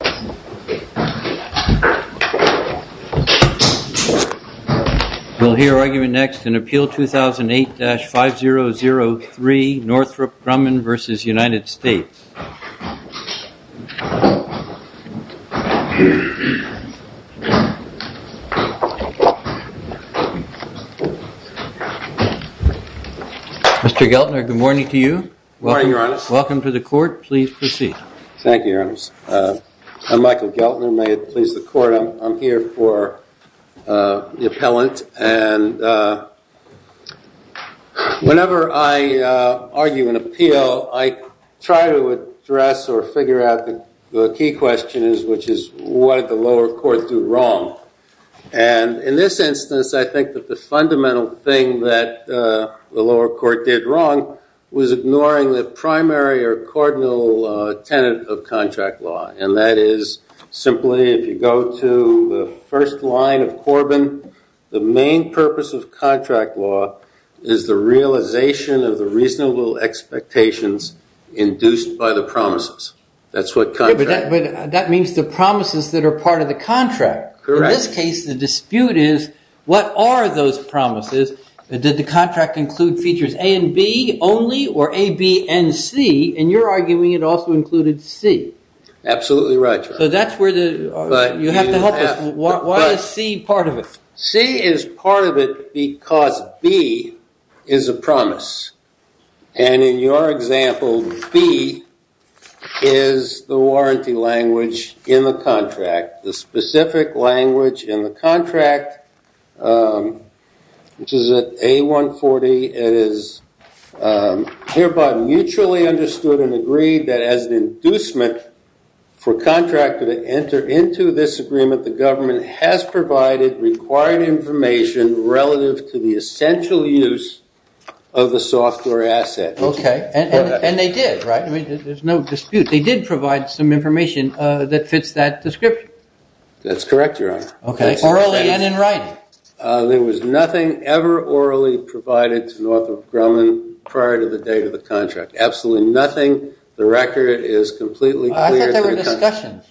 Mr. Geltner, good morning to you. Good morning, Your Honor. Welcome to the Court. Please proceed. Thank you, Your Honor. I'm Michael Geltner. May it please the Court, I'm here for the appellant, and whenever I argue an appeal, I try to address or figure out the key question, which is, what did the lower court do wrong? And in this instance, I think that the fundamental thing that the lower court did wrong was ignoring the primary or cardinal tenet of contract law, and that is simply, if you go to the first line of Corbin, the main purpose of contract law is the realization of the reasonable expectations induced by the promises. That's what contract... But that means the promises that are part of the contract. Correct. In this case, the dispute is, what are those promises? Did the contract include features A and B only, or A, B, and C, and you're arguing it also included C. Absolutely right, Your Honor. So that's where the... You have to help us. Why is C part of it? C is part of it because B is a promise, and in your example, B is the warranty language in the contract, the specific language in the contract, which is at A-140, it is hereby mutually understood and agreed that as an inducement for contractor to enter into this agreement, the government has provided required information relative to the essential use of the software asset. Okay, and they did, right? There's no dispute. They did provide some information that fits that description. That's correct, Your Honor. Okay. Orally and in writing. There was nothing ever orally provided to Northrop Grumman prior to the date of the Absolutely nothing. The record is completely clear. I thought there were discussions.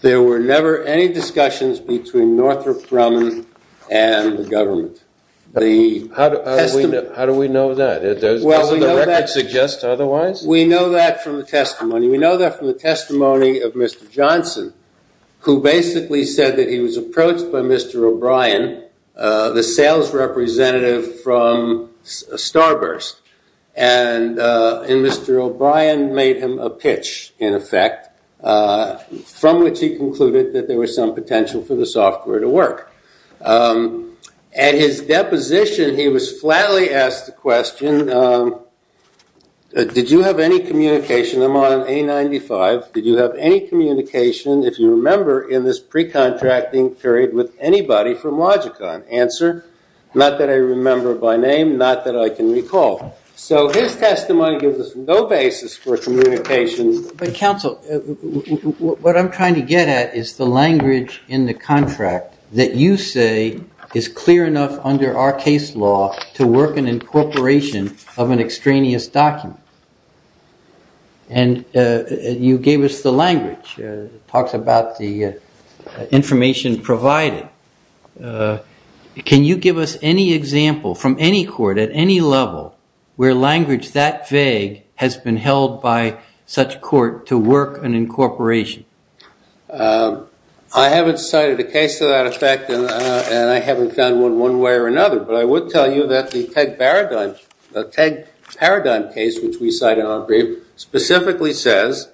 There were never any discussions between Northrop Grumman and the government. The... How do we know that? Doesn't the record suggest otherwise? No. We know that from the testimony. We know that from the testimony of Mr. Johnson, who basically said that he was approached by Mr. O'Brien, the sales representative from Starburst, and Mr. O'Brien made him a pitch, in effect, from which he concluded that there was some potential for the software to work. At his deposition, he was flatly asked the question, did you have any communication? I'm on A95. Did you have any communication, if you remember, in this pre-contracting period with anybody from Logicon? Answer, not that I remember by name, not that I can recall. So his testimony gives us no basis for communication. But counsel, what I'm trying to get at is the language in the contract that you say is clear enough under our case law to work in incorporation of an extraneous document. And you gave us the language. It talks about the information provided. Can you give us any example from any court, at any level, where language that vague has been held by such court to work in incorporation? I haven't cited a case to that effect. And I haven't found one one way or another. But I would tell you that the TEG paradigm case, which we cite in our brief, specifically says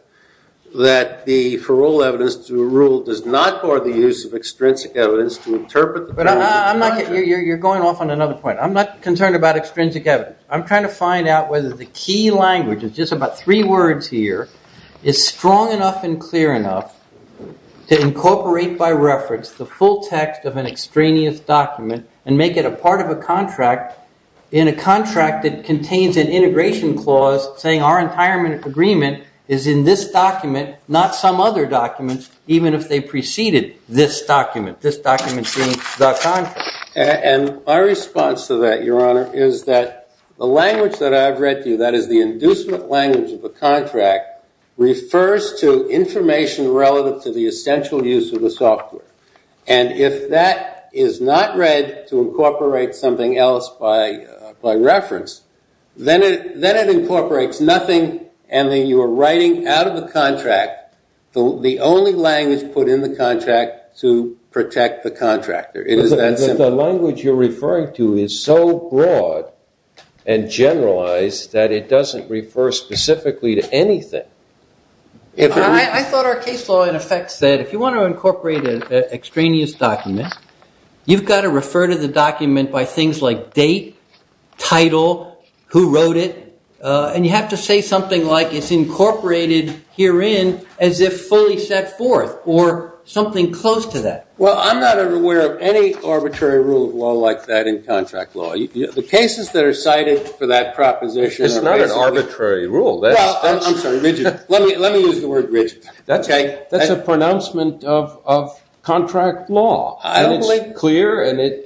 that the parole evidence to rule does not bar the use of extrinsic evidence to interpret the parole. You're going off on another point. I'm not concerned about extrinsic evidence. I'm trying to find out whether the key language is just about three words here, is strong enough and clear enough to incorporate by reference the full text of an extraneous document and make it a part of a contract in a contract that contains an integration clause saying our retirement agreement is in this document, not some other documents, even if they preceded this document, this document being the contract. And my response to that, Your Honor, is that the language that I've read to you, that is the inducement language of the contract, refers to information relative to the essential use of the software. And if that is not read to incorporate something else by reference, then it incorporates nothing and then you are writing out of the contract the only language put in the contract to protect the contractor. It is that simple. But the language you're referring to is so broad and generalized that it doesn't refer specifically to anything. I thought our case law in effect said if you want to incorporate an extraneous document, you've got to refer to the document by things like date, title, who wrote it. And you have to say something like it's incorporated herein as if fully set forth or something close to that. Well, I'm not aware of any arbitrary rule of law like that in contract law. The cases that are cited for that proposition are basically- It's not an arbitrary rule. I'm sorry. Let me use the word rigid. That's a pronouncement of contract law. I don't believe- And it's clear and it's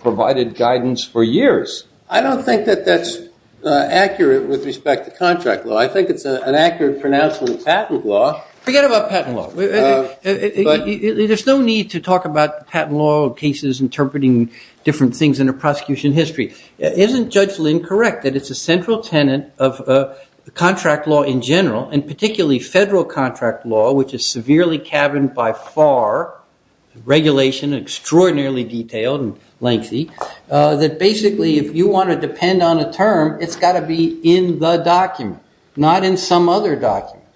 provided guidance for years. I don't think that that's accurate with respect to contract law. I think it's an accurate pronouncement of patent law. Forget about patent law. There's no need to talk about patent law cases interpreting different things in a prosecution history. Isn't Judge Lynn correct that it's a central tenet of contract law in general, and particularly federal contract law, which is severely caverned by FAR regulation, extraordinarily detailed and lengthy, that basically if you want to depend on a term, it's got to be in the document, not in some other document?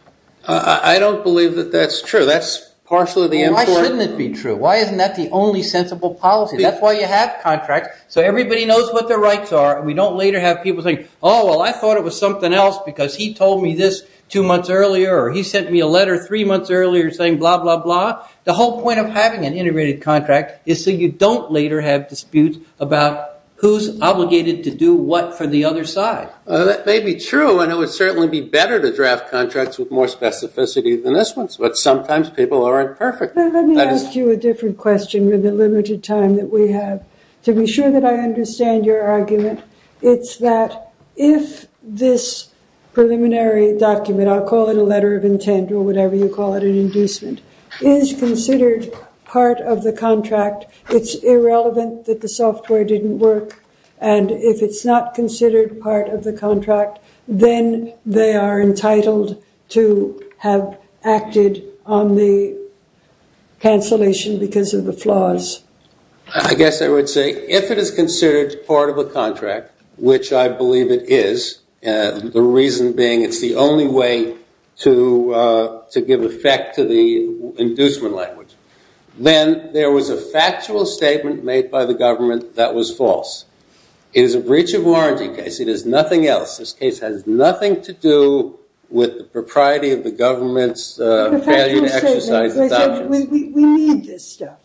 I don't believe that that's true. That's partially the important- Why shouldn't it be true? Why isn't that the only sensible policy? That's why you have contracts so everybody knows what their rights are and we don't later have people saying, oh, well, I thought it was something else because he told me this two months earlier or he sent me a letter three months earlier saying blah, blah, blah. The whole point of having an integrated contract is so you don't later have disputes about who's obligated to do what for the other side. That may be true, and it would certainly be better to draft contracts with more specificity than this one, but sometimes people are imperfect. Let me ask you a different question with the limited time that we have. To be sure that I understand your argument, it's that if this preliminary document, I'll call it a letter of intent or whatever you call it, an inducement, is considered part of the contract, it's irrelevant that the software didn't work, and if it's not considered part of the contract, then they are entitled to have acted on the cancellation because of the flaws. I guess I would say if it is considered part of a contract, which I believe it is, the reason being it's the only way to give effect to the inducement language, then there was a factual statement made by the government that was false. It is a breach of warranty case. It is nothing else. This case has nothing to do with the propriety of the government's failure to exercise the documents. We need this stuff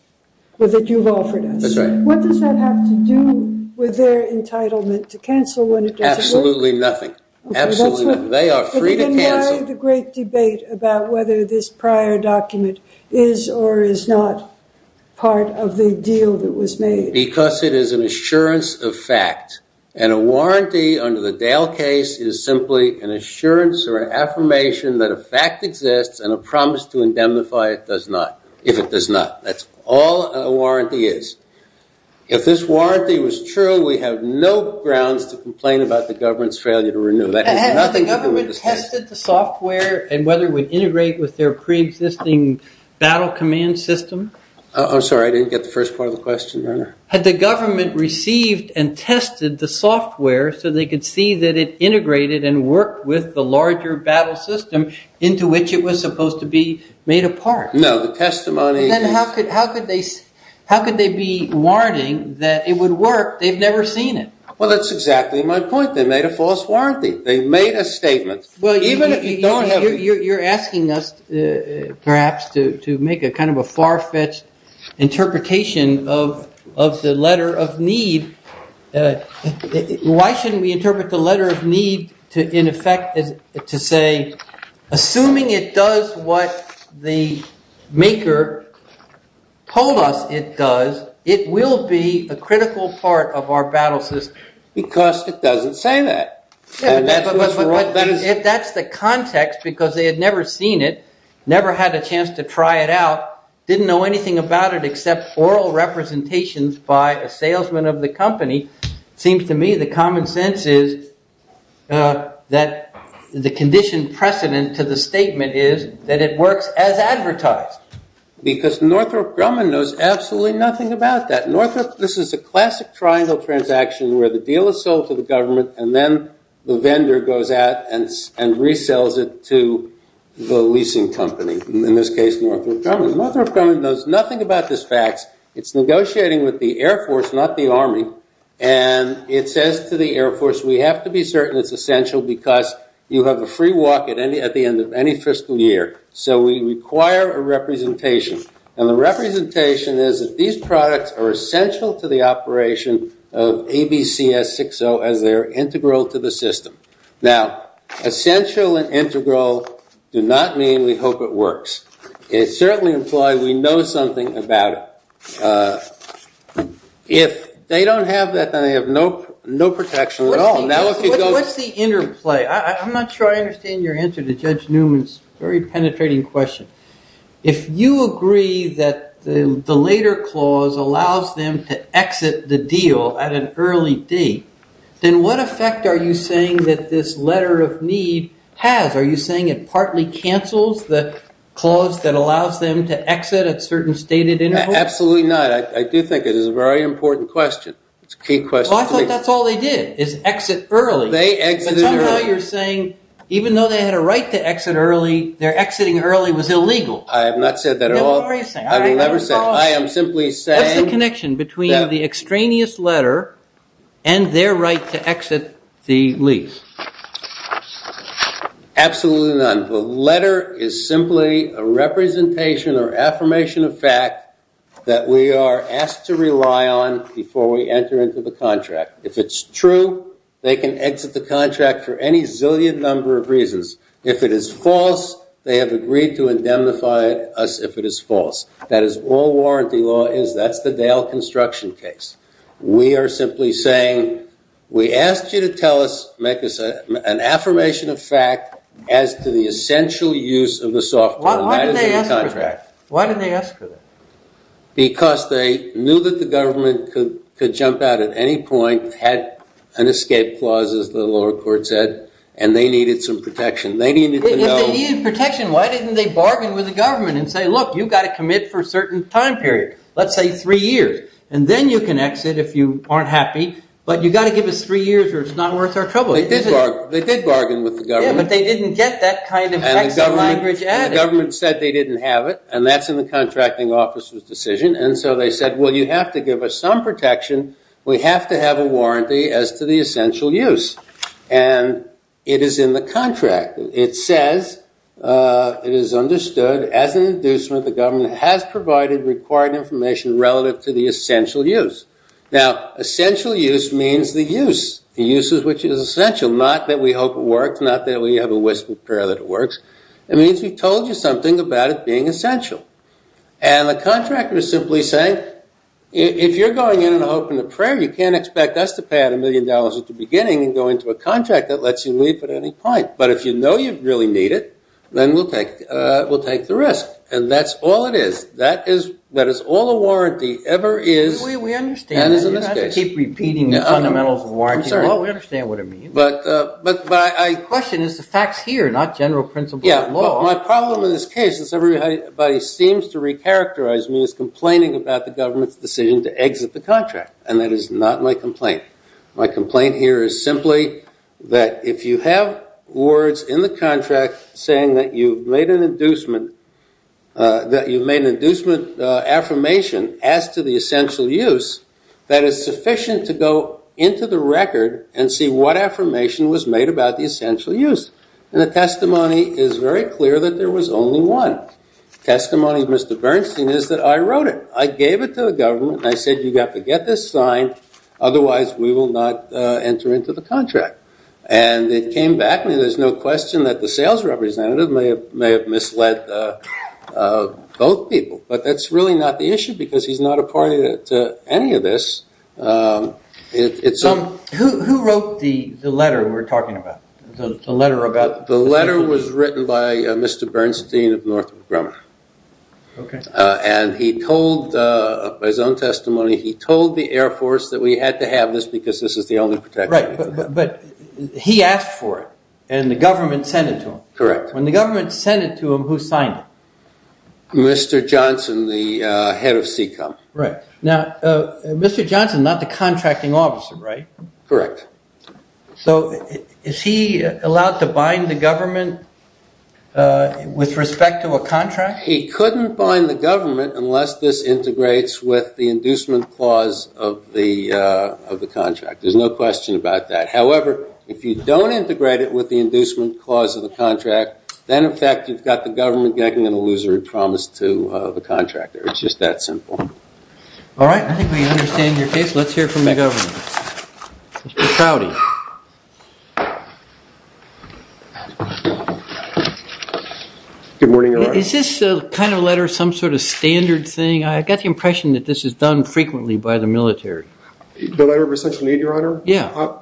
that you've offered us. That's right. What does that have to do with their entitlement to cancel when it doesn't work? Absolutely nothing. Absolutely nothing. Then why the great debate about whether this prior document is or is not part of the deal that was made? Because it is an assurance of fact, and a warranty under the Dale case is simply an assurance or an affirmation that a fact exists and a promise to indemnify it does not, if it does not. That's all a warranty is. If this warranty was true, we have no grounds to complain about the government's failure to renew. Had the government tested the software and whether it would integrate with their preexisting battle command system? I'm sorry. I didn't get the first part of the question. Had the government received and tested the software so they could see that it integrated and worked with the larger battle system into which it was supposed to be made a part? No, the testimony… Then how could they be warning that it would work? They've never seen it. Well, that's exactly my point. They made a false warranty. They made a statement. You're asking us perhaps to make a kind of a far-fetched interpretation of the letter of need. Why shouldn't we interpret the letter of need in effect to say, assuming it does what the maker told us it does, it will be a critical part of our battle system? Because it doesn't say that. If that's the context because they had never seen it, never had a chance to try it out, didn't know anything about it except oral representations by a salesman of the company, it seems to me the common sense is that the condition precedent to the statement is that it works as advertised. Because Northrop Grumman knows absolutely nothing about that. This is a classic triangle transaction where the deal is sold to the government and then the vendor goes out and resells it to the leasing company, in this case Northrop Grumman. Northrop Grumman knows nothing about this fact. It's negotiating with the Air Force, not the Army, and it says to the Air Force, we have to be certain it's essential because you have a free walk at the end of any fiscal year. So we require a representation. And the representation is that these products are essential to the operation of ABCS 6.0 as they are integral to the system. Now, essential and integral do not mean we hope it works. It certainly implies we know something about it. If they don't have that, then they have no protection at all. What's the interplay? I'm not sure I understand your answer to Judge Newman's very penetrating question. If you agree that the later clause allows them to exit the deal at an early date, then what effect are you saying that this letter of need has? Are you saying it partly cancels the clause that allows them to exit at certain stated intervals? Absolutely not. I do think it is a very important question. It's a key question. Well, I thought that's all they did is exit early. They exited early. But somehow you're saying even though they had a right to exit early, their exiting early was illegal. I have not said that at all. No, what are you saying? I have never said that. I am simply saying that. What's the connection between the extraneous letter and their right to exit the lease? Absolutely none. The letter is simply a representation or affirmation of fact that we are asked to rely on before we enter into the contract. If it's true, they can exit the contract for any zillion number of reasons. If it is false, they have agreed to indemnify us if it is false. That is all warranty law is. That's the Dale construction case. We are simply saying we asked you to tell us, make us an affirmation of fact, as to the essential use of the software that is in the contract. Why did they ask for that? Because they knew that the government could jump out at any point, had an escape clause, as the lower court said, and they needed some protection. If they needed protection, why didn't they bargain with the government and say, look, you've got to commit for a certain time period, let's say three years, and then you can exit if you aren't happy, but you've got to give us three years or it's not worth our trouble. They did bargain with the government. Yeah, but they didn't get that kind of exit language added. The government said they didn't have it, and that's in the contracting officer's decision. And so they said, well, you have to give us some protection. We have to have a warranty as to the essential use. And it is in the contract. It says it is understood as an inducement the government has provided required information relative to the essential use. Now, essential use means the use, the uses which is essential, not that we hope it works, not that we have a whispered prayer that it works. It means we've told you something about it being essential. And the contractor is simply saying, if you're going in and hoping a prayer, you can't expect us to pay out a million dollars at the beginning and go into a contract that lets you leave at any point. But if you know you really need it, then we'll take the risk. And that's all it is. That is all a warranty ever is and is in this case. We understand that. You don't have to keep repeating the fundamentals of warranty. I'm sorry. Well, we understand what it means. The question is the facts here, not general principles of law. My problem in this case, as everybody seems to recharacterize me, is complaining about the government's decision to exit the contract. And that is not my complaint. My complaint here is simply that if you have words in the contract saying that you've made an inducement, that you've made an inducement affirmation as to the essential use, that is sufficient to go into the record and see what affirmation was made about the essential use. And the testimony is very clear that there was only one. The testimony of Mr. Bernstein is that I wrote it. I gave it to the government and I said, you have to get this signed, otherwise we will not enter into the contract. And it came back to me. There's no question that the sales representative may have misled both people. But that's really not the issue because he's not a party to any of this. Who wrote the letter we're talking about? The letter was written by Mr. Bernstein of Northrop Grumman. And he told, by his own testimony, he told the Air Force that we had to have this because this is the only protection. Right, but he asked for it and the government sent it to him. Correct. When the government sent it to him, who signed it? Mr. Johnson, the head of SECOM. Right. Now, Mr. Johnson is not the contracting officer, right? Correct. So is he allowed to bind the government with respect to a contract? He couldn't bind the government unless this integrates with the inducement clause of the contract. There's no question about that. However, if you don't integrate it with the inducement clause of the contract, then, in fact, you've got the government getting an illusory promise to the contractor. It's just that simple. All right, I think we understand your case. Let's hear from the government. Mr. Crowdy. Good morning, Your Honor. Is this kind of letter some sort of standard thing? I've got the impression that this is done frequently by the military. The letter of essential need, Your Honor? Yeah.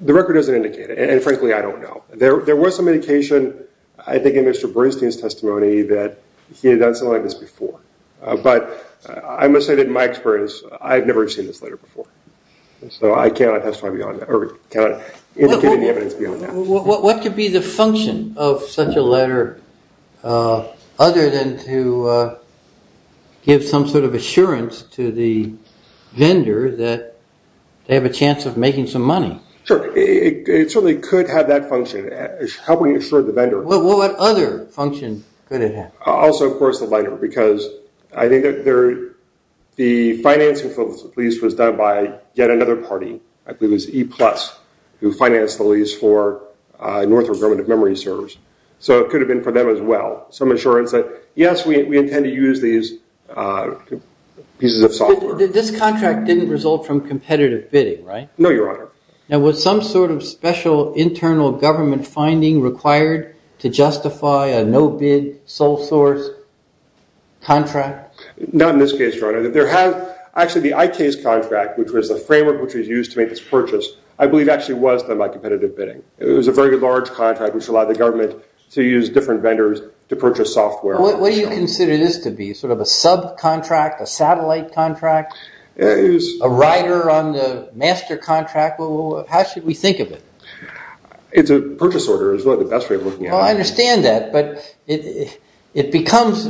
The record doesn't indicate it, and, frankly, I don't know. There was some indication, I think, in Mr. Bernstein's testimony that he had done something like this before. But I must say that, in my experience, I've never seen this letter before. So I cannot testify beyond that or cannot indicate any evidence beyond that. What could be the function of such a letter other than to give some sort of assurance to the vendor that they have a chance of making some money? Sure. It certainly could have that function, helping assure the vendor. What other function could it have? Also, of course, the letter, because I think the financing for the lease was done by yet another party. I believe it was E-Plus who financed the lease for Northrop Grumman of Memory Servers. So it could have been for them as well, some assurance that, yes, we intend to use these pieces of software. This contract didn't result from competitive bidding, right? No, Your Honor. Now, was some sort of special internal government finding required to justify a no-bid sole source contract? Not in this case, Your Honor. Actually, the IK's contract, which was the framework which was used to make this purchase, I believe actually was done by competitive bidding. It was a very large contract which allowed the government to use different vendors to purchase software. What do you consider this to be, sort of a subcontract, a satellite contract, a rider on the master contract? How should we think of it? It's a purchase order is really the best way of looking at it. Well, I understand that, but it becomes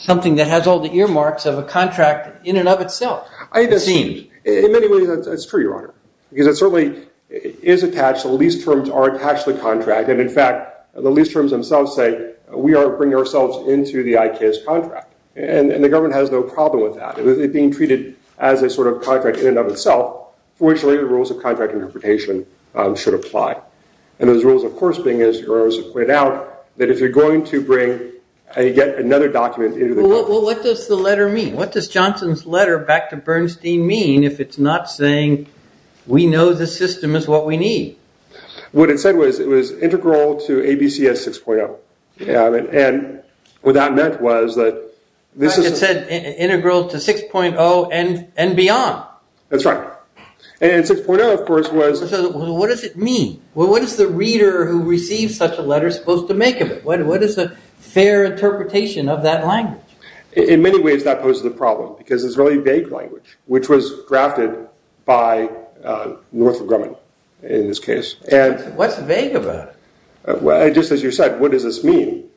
something that has all the earmarks of a contract in and of itself, it seems. In many ways, that's true, Your Honor, because it certainly is attached. The lease terms are attached to the contract. And, in fact, the lease terms themselves say we are bringing ourselves into the IK's contract. And the government has no problem with that. It is being treated as a sort of contract in and of itself for which later rules of contract interpretation should apply. And those rules, of course, being, as Your Honor has pointed out, that if you're going to bring and get another document into the government. Well, what does the letter mean? What does Johnson's letter back to Bernstein mean if it's not saying we know the system is what we need? What it said was it was integral to ABCS 6.0. And what that meant was that this is... It said integral to 6.0 and beyond. That's right. And 6.0, of course, was... What does it mean? What is the reader who receives such a letter supposed to make of it? What is a fair interpretation of that language? In many ways, that poses a problem because it's a very vague language, which was drafted by Northrop Grumman, in this case. What's vague about it? Just as you said, what does this mean?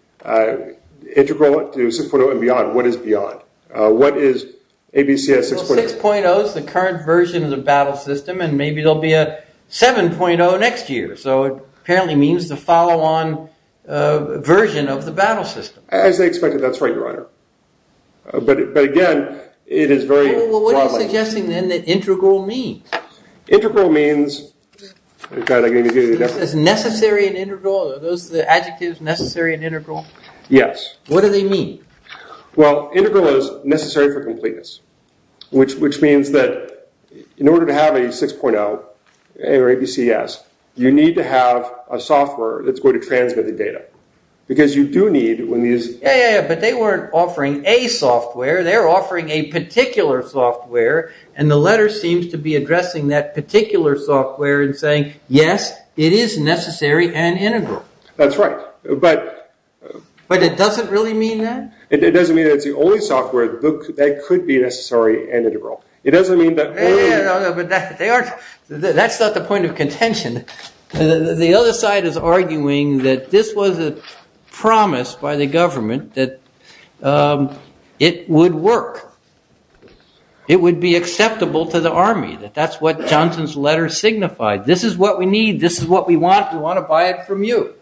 Integral to 6.0 and beyond. What is beyond? What is ABCS 6.0? Well, 6.0 is the current version of the battle system, and maybe there will be a 7.0 next year. So it apparently means the follow-on version of the battle system. As they expected, that's right, Your Honor. But again, it is very... Well, what are you suggesting, then, that integral means? Integral means... It says necessary and integral. Are those the adjectives, necessary and integral? Yes. What do they mean? Well, integral is necessary for completeness, which means that in order to have a 6.0 or ABCS, you need to have a software that's going to transmit the data. Because you do need... Yeah, but they weren't offering a software. They're offering a particular software, and the letter seems to be addressing that particular software and saying, yes, it is necessary and integral. That's right, but... But it doesn't really mean that? It doesn't mean that it's the only software that could be necessary and integral. It doesn't mean that... Yeah, but that's not the point of contention. The other side is arguing that this was a promise by the government that it would work. It would be acceptable to the Army, that that's what Johnson's letter signified. This is what we need. This is what we want. We want to buy it from you.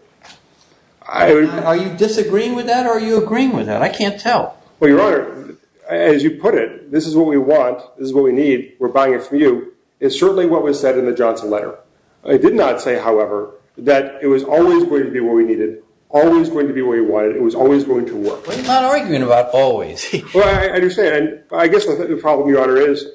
Are you disagreeing with that, or are you agreeing with that? I can't tell. Well, Your Honor, as you put it, this is what we want. This is what we need. We're buying it from you. It's certainly what was said in the Johnson letter. It did not say, however, that it was always going to be what we needed, always going to be what we wanted. It was always going to work. We're not arguing about always. Well, I understand. I guess the problem, Your Honor, is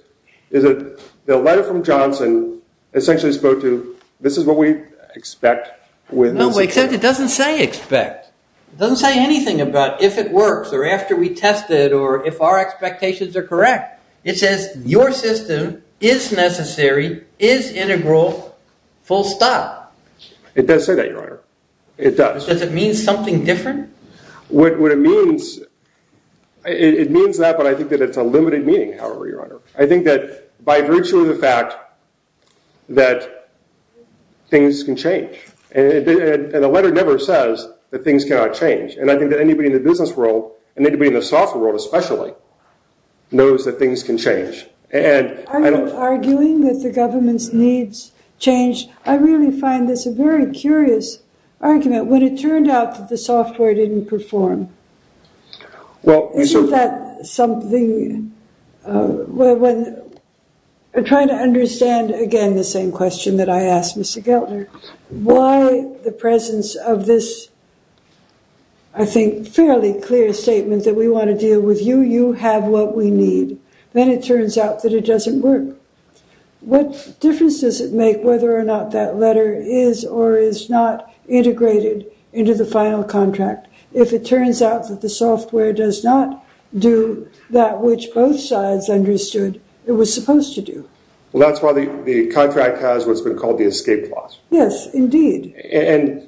that the letter from Johnson essentially spoke to this is what we expect. No, except it doesn't say expect. It doesn't say anything about if it works or after we test it or if our expectations are correct. It says your system is necessary, is integral, full stop. It does say that, Your Honor. It does. Does it mean something different? What it means, it means that, but I think that it's a limited meaning, however, Your Honor. I think that by virtue of the fact that things can change, and the letter never says that things cannot change, and I think that anybody in the business world and anybody in the software world especially knows that things can change. Are you arguing that the government's needs change? I really find this a very curious argument. When it turned out that the software didn't perform, isn't that something? I'm trying to understand, again, the same question that I asked Mr. Gellner, why the presence of this, I think, fairly clear statement that we want to deal with you, you have what we need. Then it turns out that it doesn't work. What difference does it make whether or not that letter is or is not integrated into the final contract if it turns out that the software does not do that which both sides understood it was supposed to do? Well, that's why the contract has what's been called the escape clause. Yes, indeed. Let's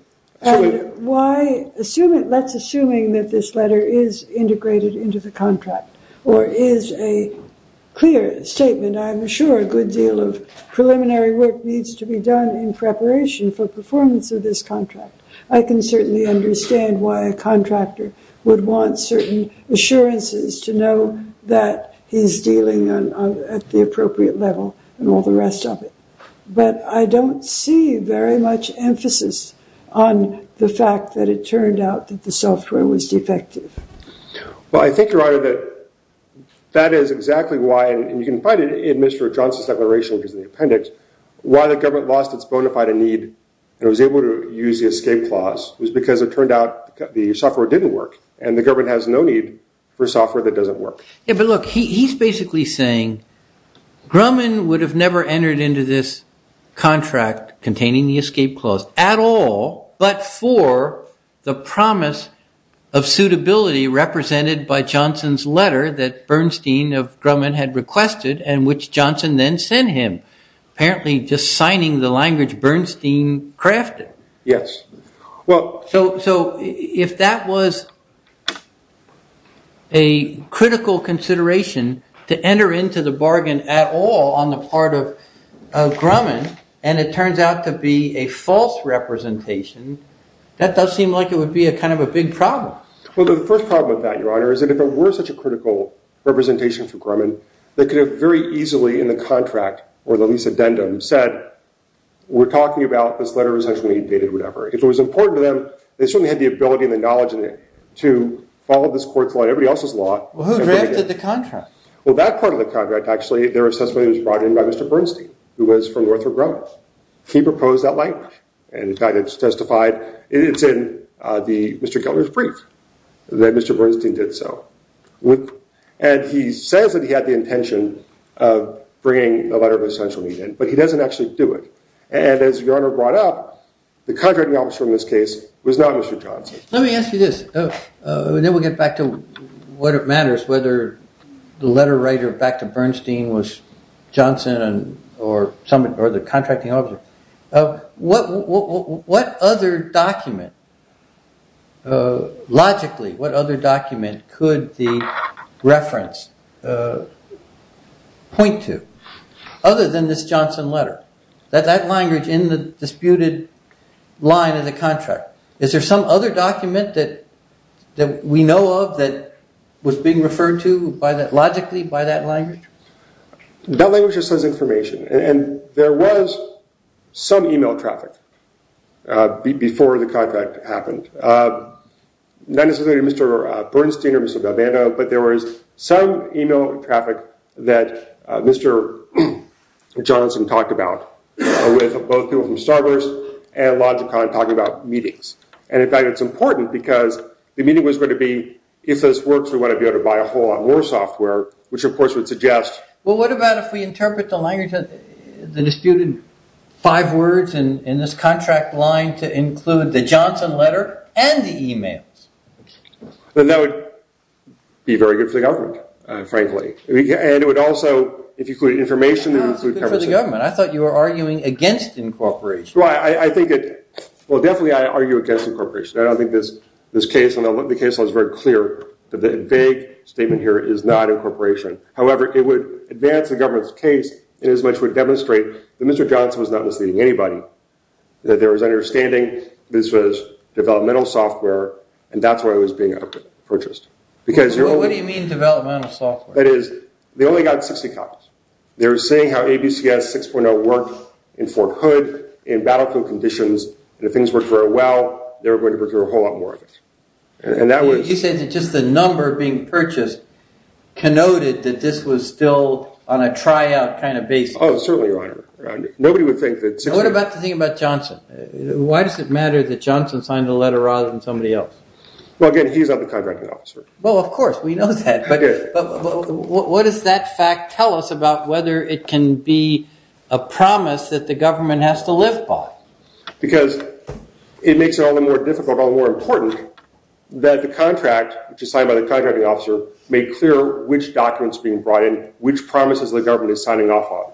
assume that this letter is integrated into the contract or is a clear statement. I'm sure a good deal of preliminary work needs to be done in preparation for performance of this contract. I can certainly understand why a contractor would want certain assurances to know that he's dealing at the appropriate level and all the rest of it. But I don't see very much emphasis on the fact that it turned out that the software was defective. Well, I think, Your Honor, that that is exactly why, and you can find it in Mr. Johnson's declaration, which is in the appendix, why the government lost its bona fide need and was able to use the escape clause was because it turned out the software didn't work and the government has no need for software that doesn't work. But look, he's basically saying Grumman would have never entered into this contract containing the escape clause at all but for the promise of suitability represented by Johnson's letter that Bernstein of Grumman had requested and which Johnson then sent him, apparently just signing the language Bernstein crafted. Yes. So if that was a critical consideration to enter into the bargain at all on the part of Grumman and it turns out to be a false representation, that does seem like it would be kind of a big problem. Well, the first problem with that, Your Honor, is that if it were such a critical representation for Grumman, they could have very easily in the contract or the lease addendum said, we're talking about this letter of essential need dated whatever. If it was important to them, they certainly had the ability and the knowledge to follow this court's law and everybody else's law. Well, who drafted the contract? Well, that part of the contract actually, their assessment was brought in by Mr. Bernstein who was from Northrop Grumman. He proposed that language and the guy that testified, it's in Mr. Kellner's brief that Mr. Bernstein did so. And he says that he had the intention of bringing the letter of essential need in but he doesn't actually do it. And as Your Honor brought up, the contracting officer in this case was not Mr. Johnson. Let me ask you this and then we'll get back to what matters, whether the letter writer back to Bernstein was Johnson or the contracting officer. What other document, logically, what other document could the reference point to other than this Johnson letter? That language in the disputed line of the contract. Is there some other document that we know of that was being referred to logically by that language? That language just says information. And there was some email traffic before the contract happened. Not necessarily Mr. Bernstein or Mr. Galvano, but there was some email traffic that Mr. Johnson talked about with both people from Starburst and Logicon talking about meetings. And in fact it's important because the meeting was going to be, if this works we want to be able to buy a whole lot more software, which of course would suggest... Well what about if we interpret the language, the disputed five words in this contract line to include the Johnson letter and the emails? That would be very good for the government, frankly. And it would also, if you include information... No, it's good for the government. I thought you were arguing against incorporation. I think it... Well definitely I argue against incorporation. I think this case and the case law is very clear that the vague statement here is not incorporation. However, it would advance the government's case inasmuch as it would demonstrate that Mr. Johnson was not misleading anybody, that there was an understanding that this was developmental software and that's why it was being purchased. What do you mean developmental software? That is, they only got 60 copies. They were saying how ABCS 6.0 worked in Fort Hood, in battlefield conditions, and if things worked very well, they were going to procure a whole lot more of it. You're saying that just the number being purchased connoted that this was still on a tryout kind of basis. Oh, certainly, Your Honor. What about the thing about Johnson? Why does it matter that Johnson signed the letter rather than somebody else? Well, again, he's not the contracting officer. Well, of course, we know that. But what does that fact tell us about whether it can be a promise that the government has to live by? Because it makes it all the more difficult, all the more important, that the contract, which is signed by the contracting officer, made clear which documents are being brought in, which promises the government is signing off on.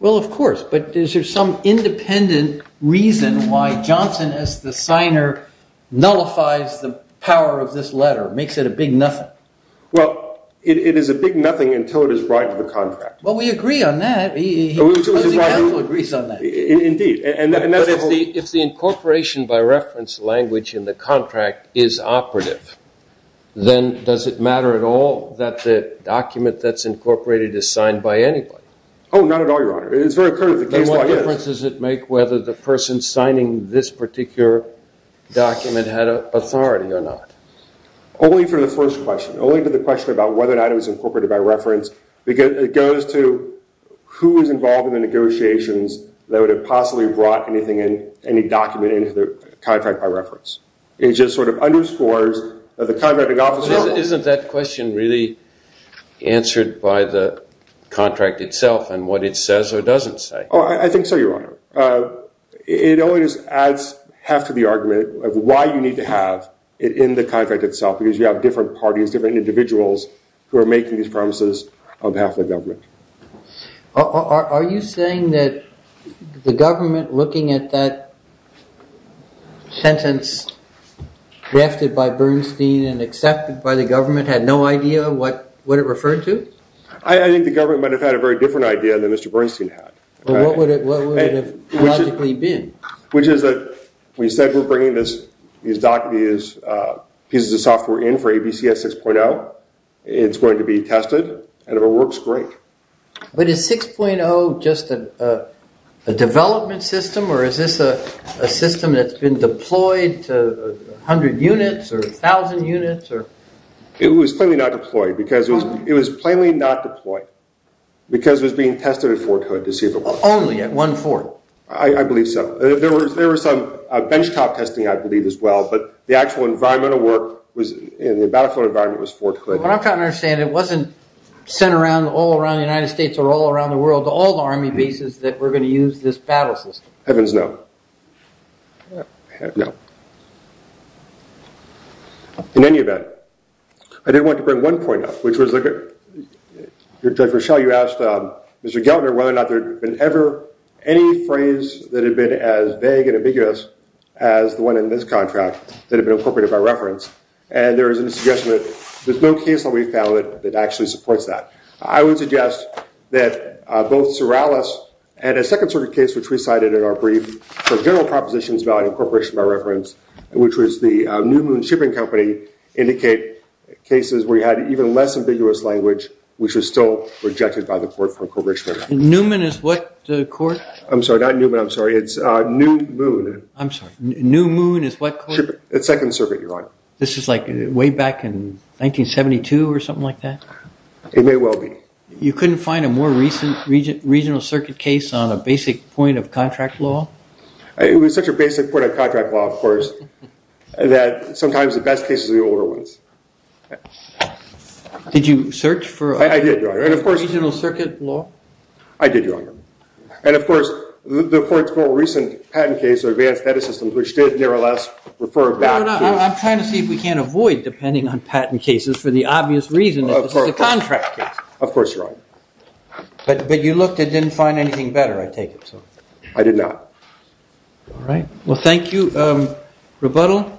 Well, of course. But is there some independent reason why Johnson, as the signer, nullifies the power of this letter, makes it a big nothing? Well, it is a big nothing until it is brought into the contract. Well, we agree on that. He agrees on that. Indeed. But if the incorporation by reference language in the contract is operative, then does it matter at all that the document that's incorporated is signed by anybody? Oh, not at all, Your Honor. It's very clear that the case by reference is. Then what difference does it make whether the person signing this particular document had authority or not? Only for the first question, only for the question about whether or not it was incorporated by reference. It goes to who was involved in the negotiations that would have possibly brought anything in, any document into the contract by reference. It just sort of underscores that the contracting officer. Isn't that question really answered by the contract itself and what it says or doesn't say? Oh, I think so, Your Honor. It only just adds half to the argument of why you need to have it in the contract itself, because you have different parties, different individuals, who are making these promises on behalf of the government. Are you saying that the government looking at that sentence drafted by Bernstein and accepted by the government had no idea what it referred to? I think the government might have had a very different idea than Mr. Bernstein had. What would it have logically been? Which is that we said we're bringing these pieces of software in for ABCS 6.0. It's going to be tested, and it works great. But is 6.0 just a development system, or is this a system that's been deployed to 100 units or 1,000 units? It was plainly not deployed, because it was being tested at Fort Hood to see if it worked. Only at one fort? I believe so. But the actual environmental work in the battlefield environment was Fort Hood. What I'm trying to understand, it wasn't sent all around the United States or all around the world to all the Army bases that we're going to use this battle system. Heavens, no. No. In any event, I did want to bring one point up, which was that, Judge Rochelle, you asked Mr. Gellner whether or not there had been ever any phrase that had been as vague and ambiguous as the one in this contract that had been incorporated by reference. And there is a suggestion that there's no case that we've found that actually supports that. I would suggest that both Sorrellis and a second sort of case, which we cited in our brief for general propositions about incorporation by reference, which was the New Moon shipping company, indicate cases where you had even less ambiguous language, which was still rejected by the court for incorporation by reference. Newman is what court? I'm sorry, not Newman. I'm sorry. It's New Moon. I'm sorry. New Moon is what court? Second Circuit, Your Honor. This is like way back in 1972 or something like that? It may well be. You couldn't find a more recent regional circuit case on a basic point of contract law? It was such a basic point of contract law, of course, that sometimes the best cases are the older ones. Did you search for a regional circuit law? I did, Your Honor. And, of course, the court's more recent patent case, Advanced Data Systems, which did nevertheless refer back to- I'm trying to see if we can't avoid depending on patent cases for the obvious reason that this is a contract case. Of course, Your Honor. But you looked and didn't find anything better, I take it? I did not. All right. Well, thank you. Rebuttal?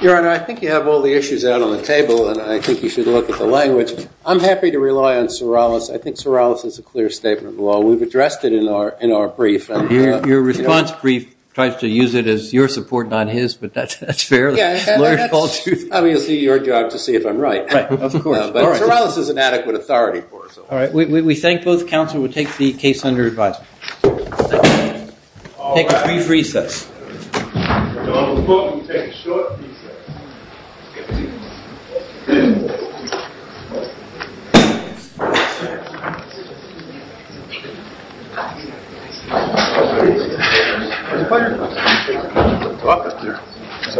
Your Honor, I think you have all the issues out on the table, and I think you should look at the language. I'm happy to rely on Sorrellis. I think Sorrellis is a clear statement of the law. We've addressed it in our brief. Your response brief tries to use it as your support, not his, but that's fair. Obviously, it's your job to see if I'm right. Right, of course. But Sorrellis is an adequate authority for us. All right. We thank both counsel. We'll take the case under review. Take a brief recess. We'll take a short recess.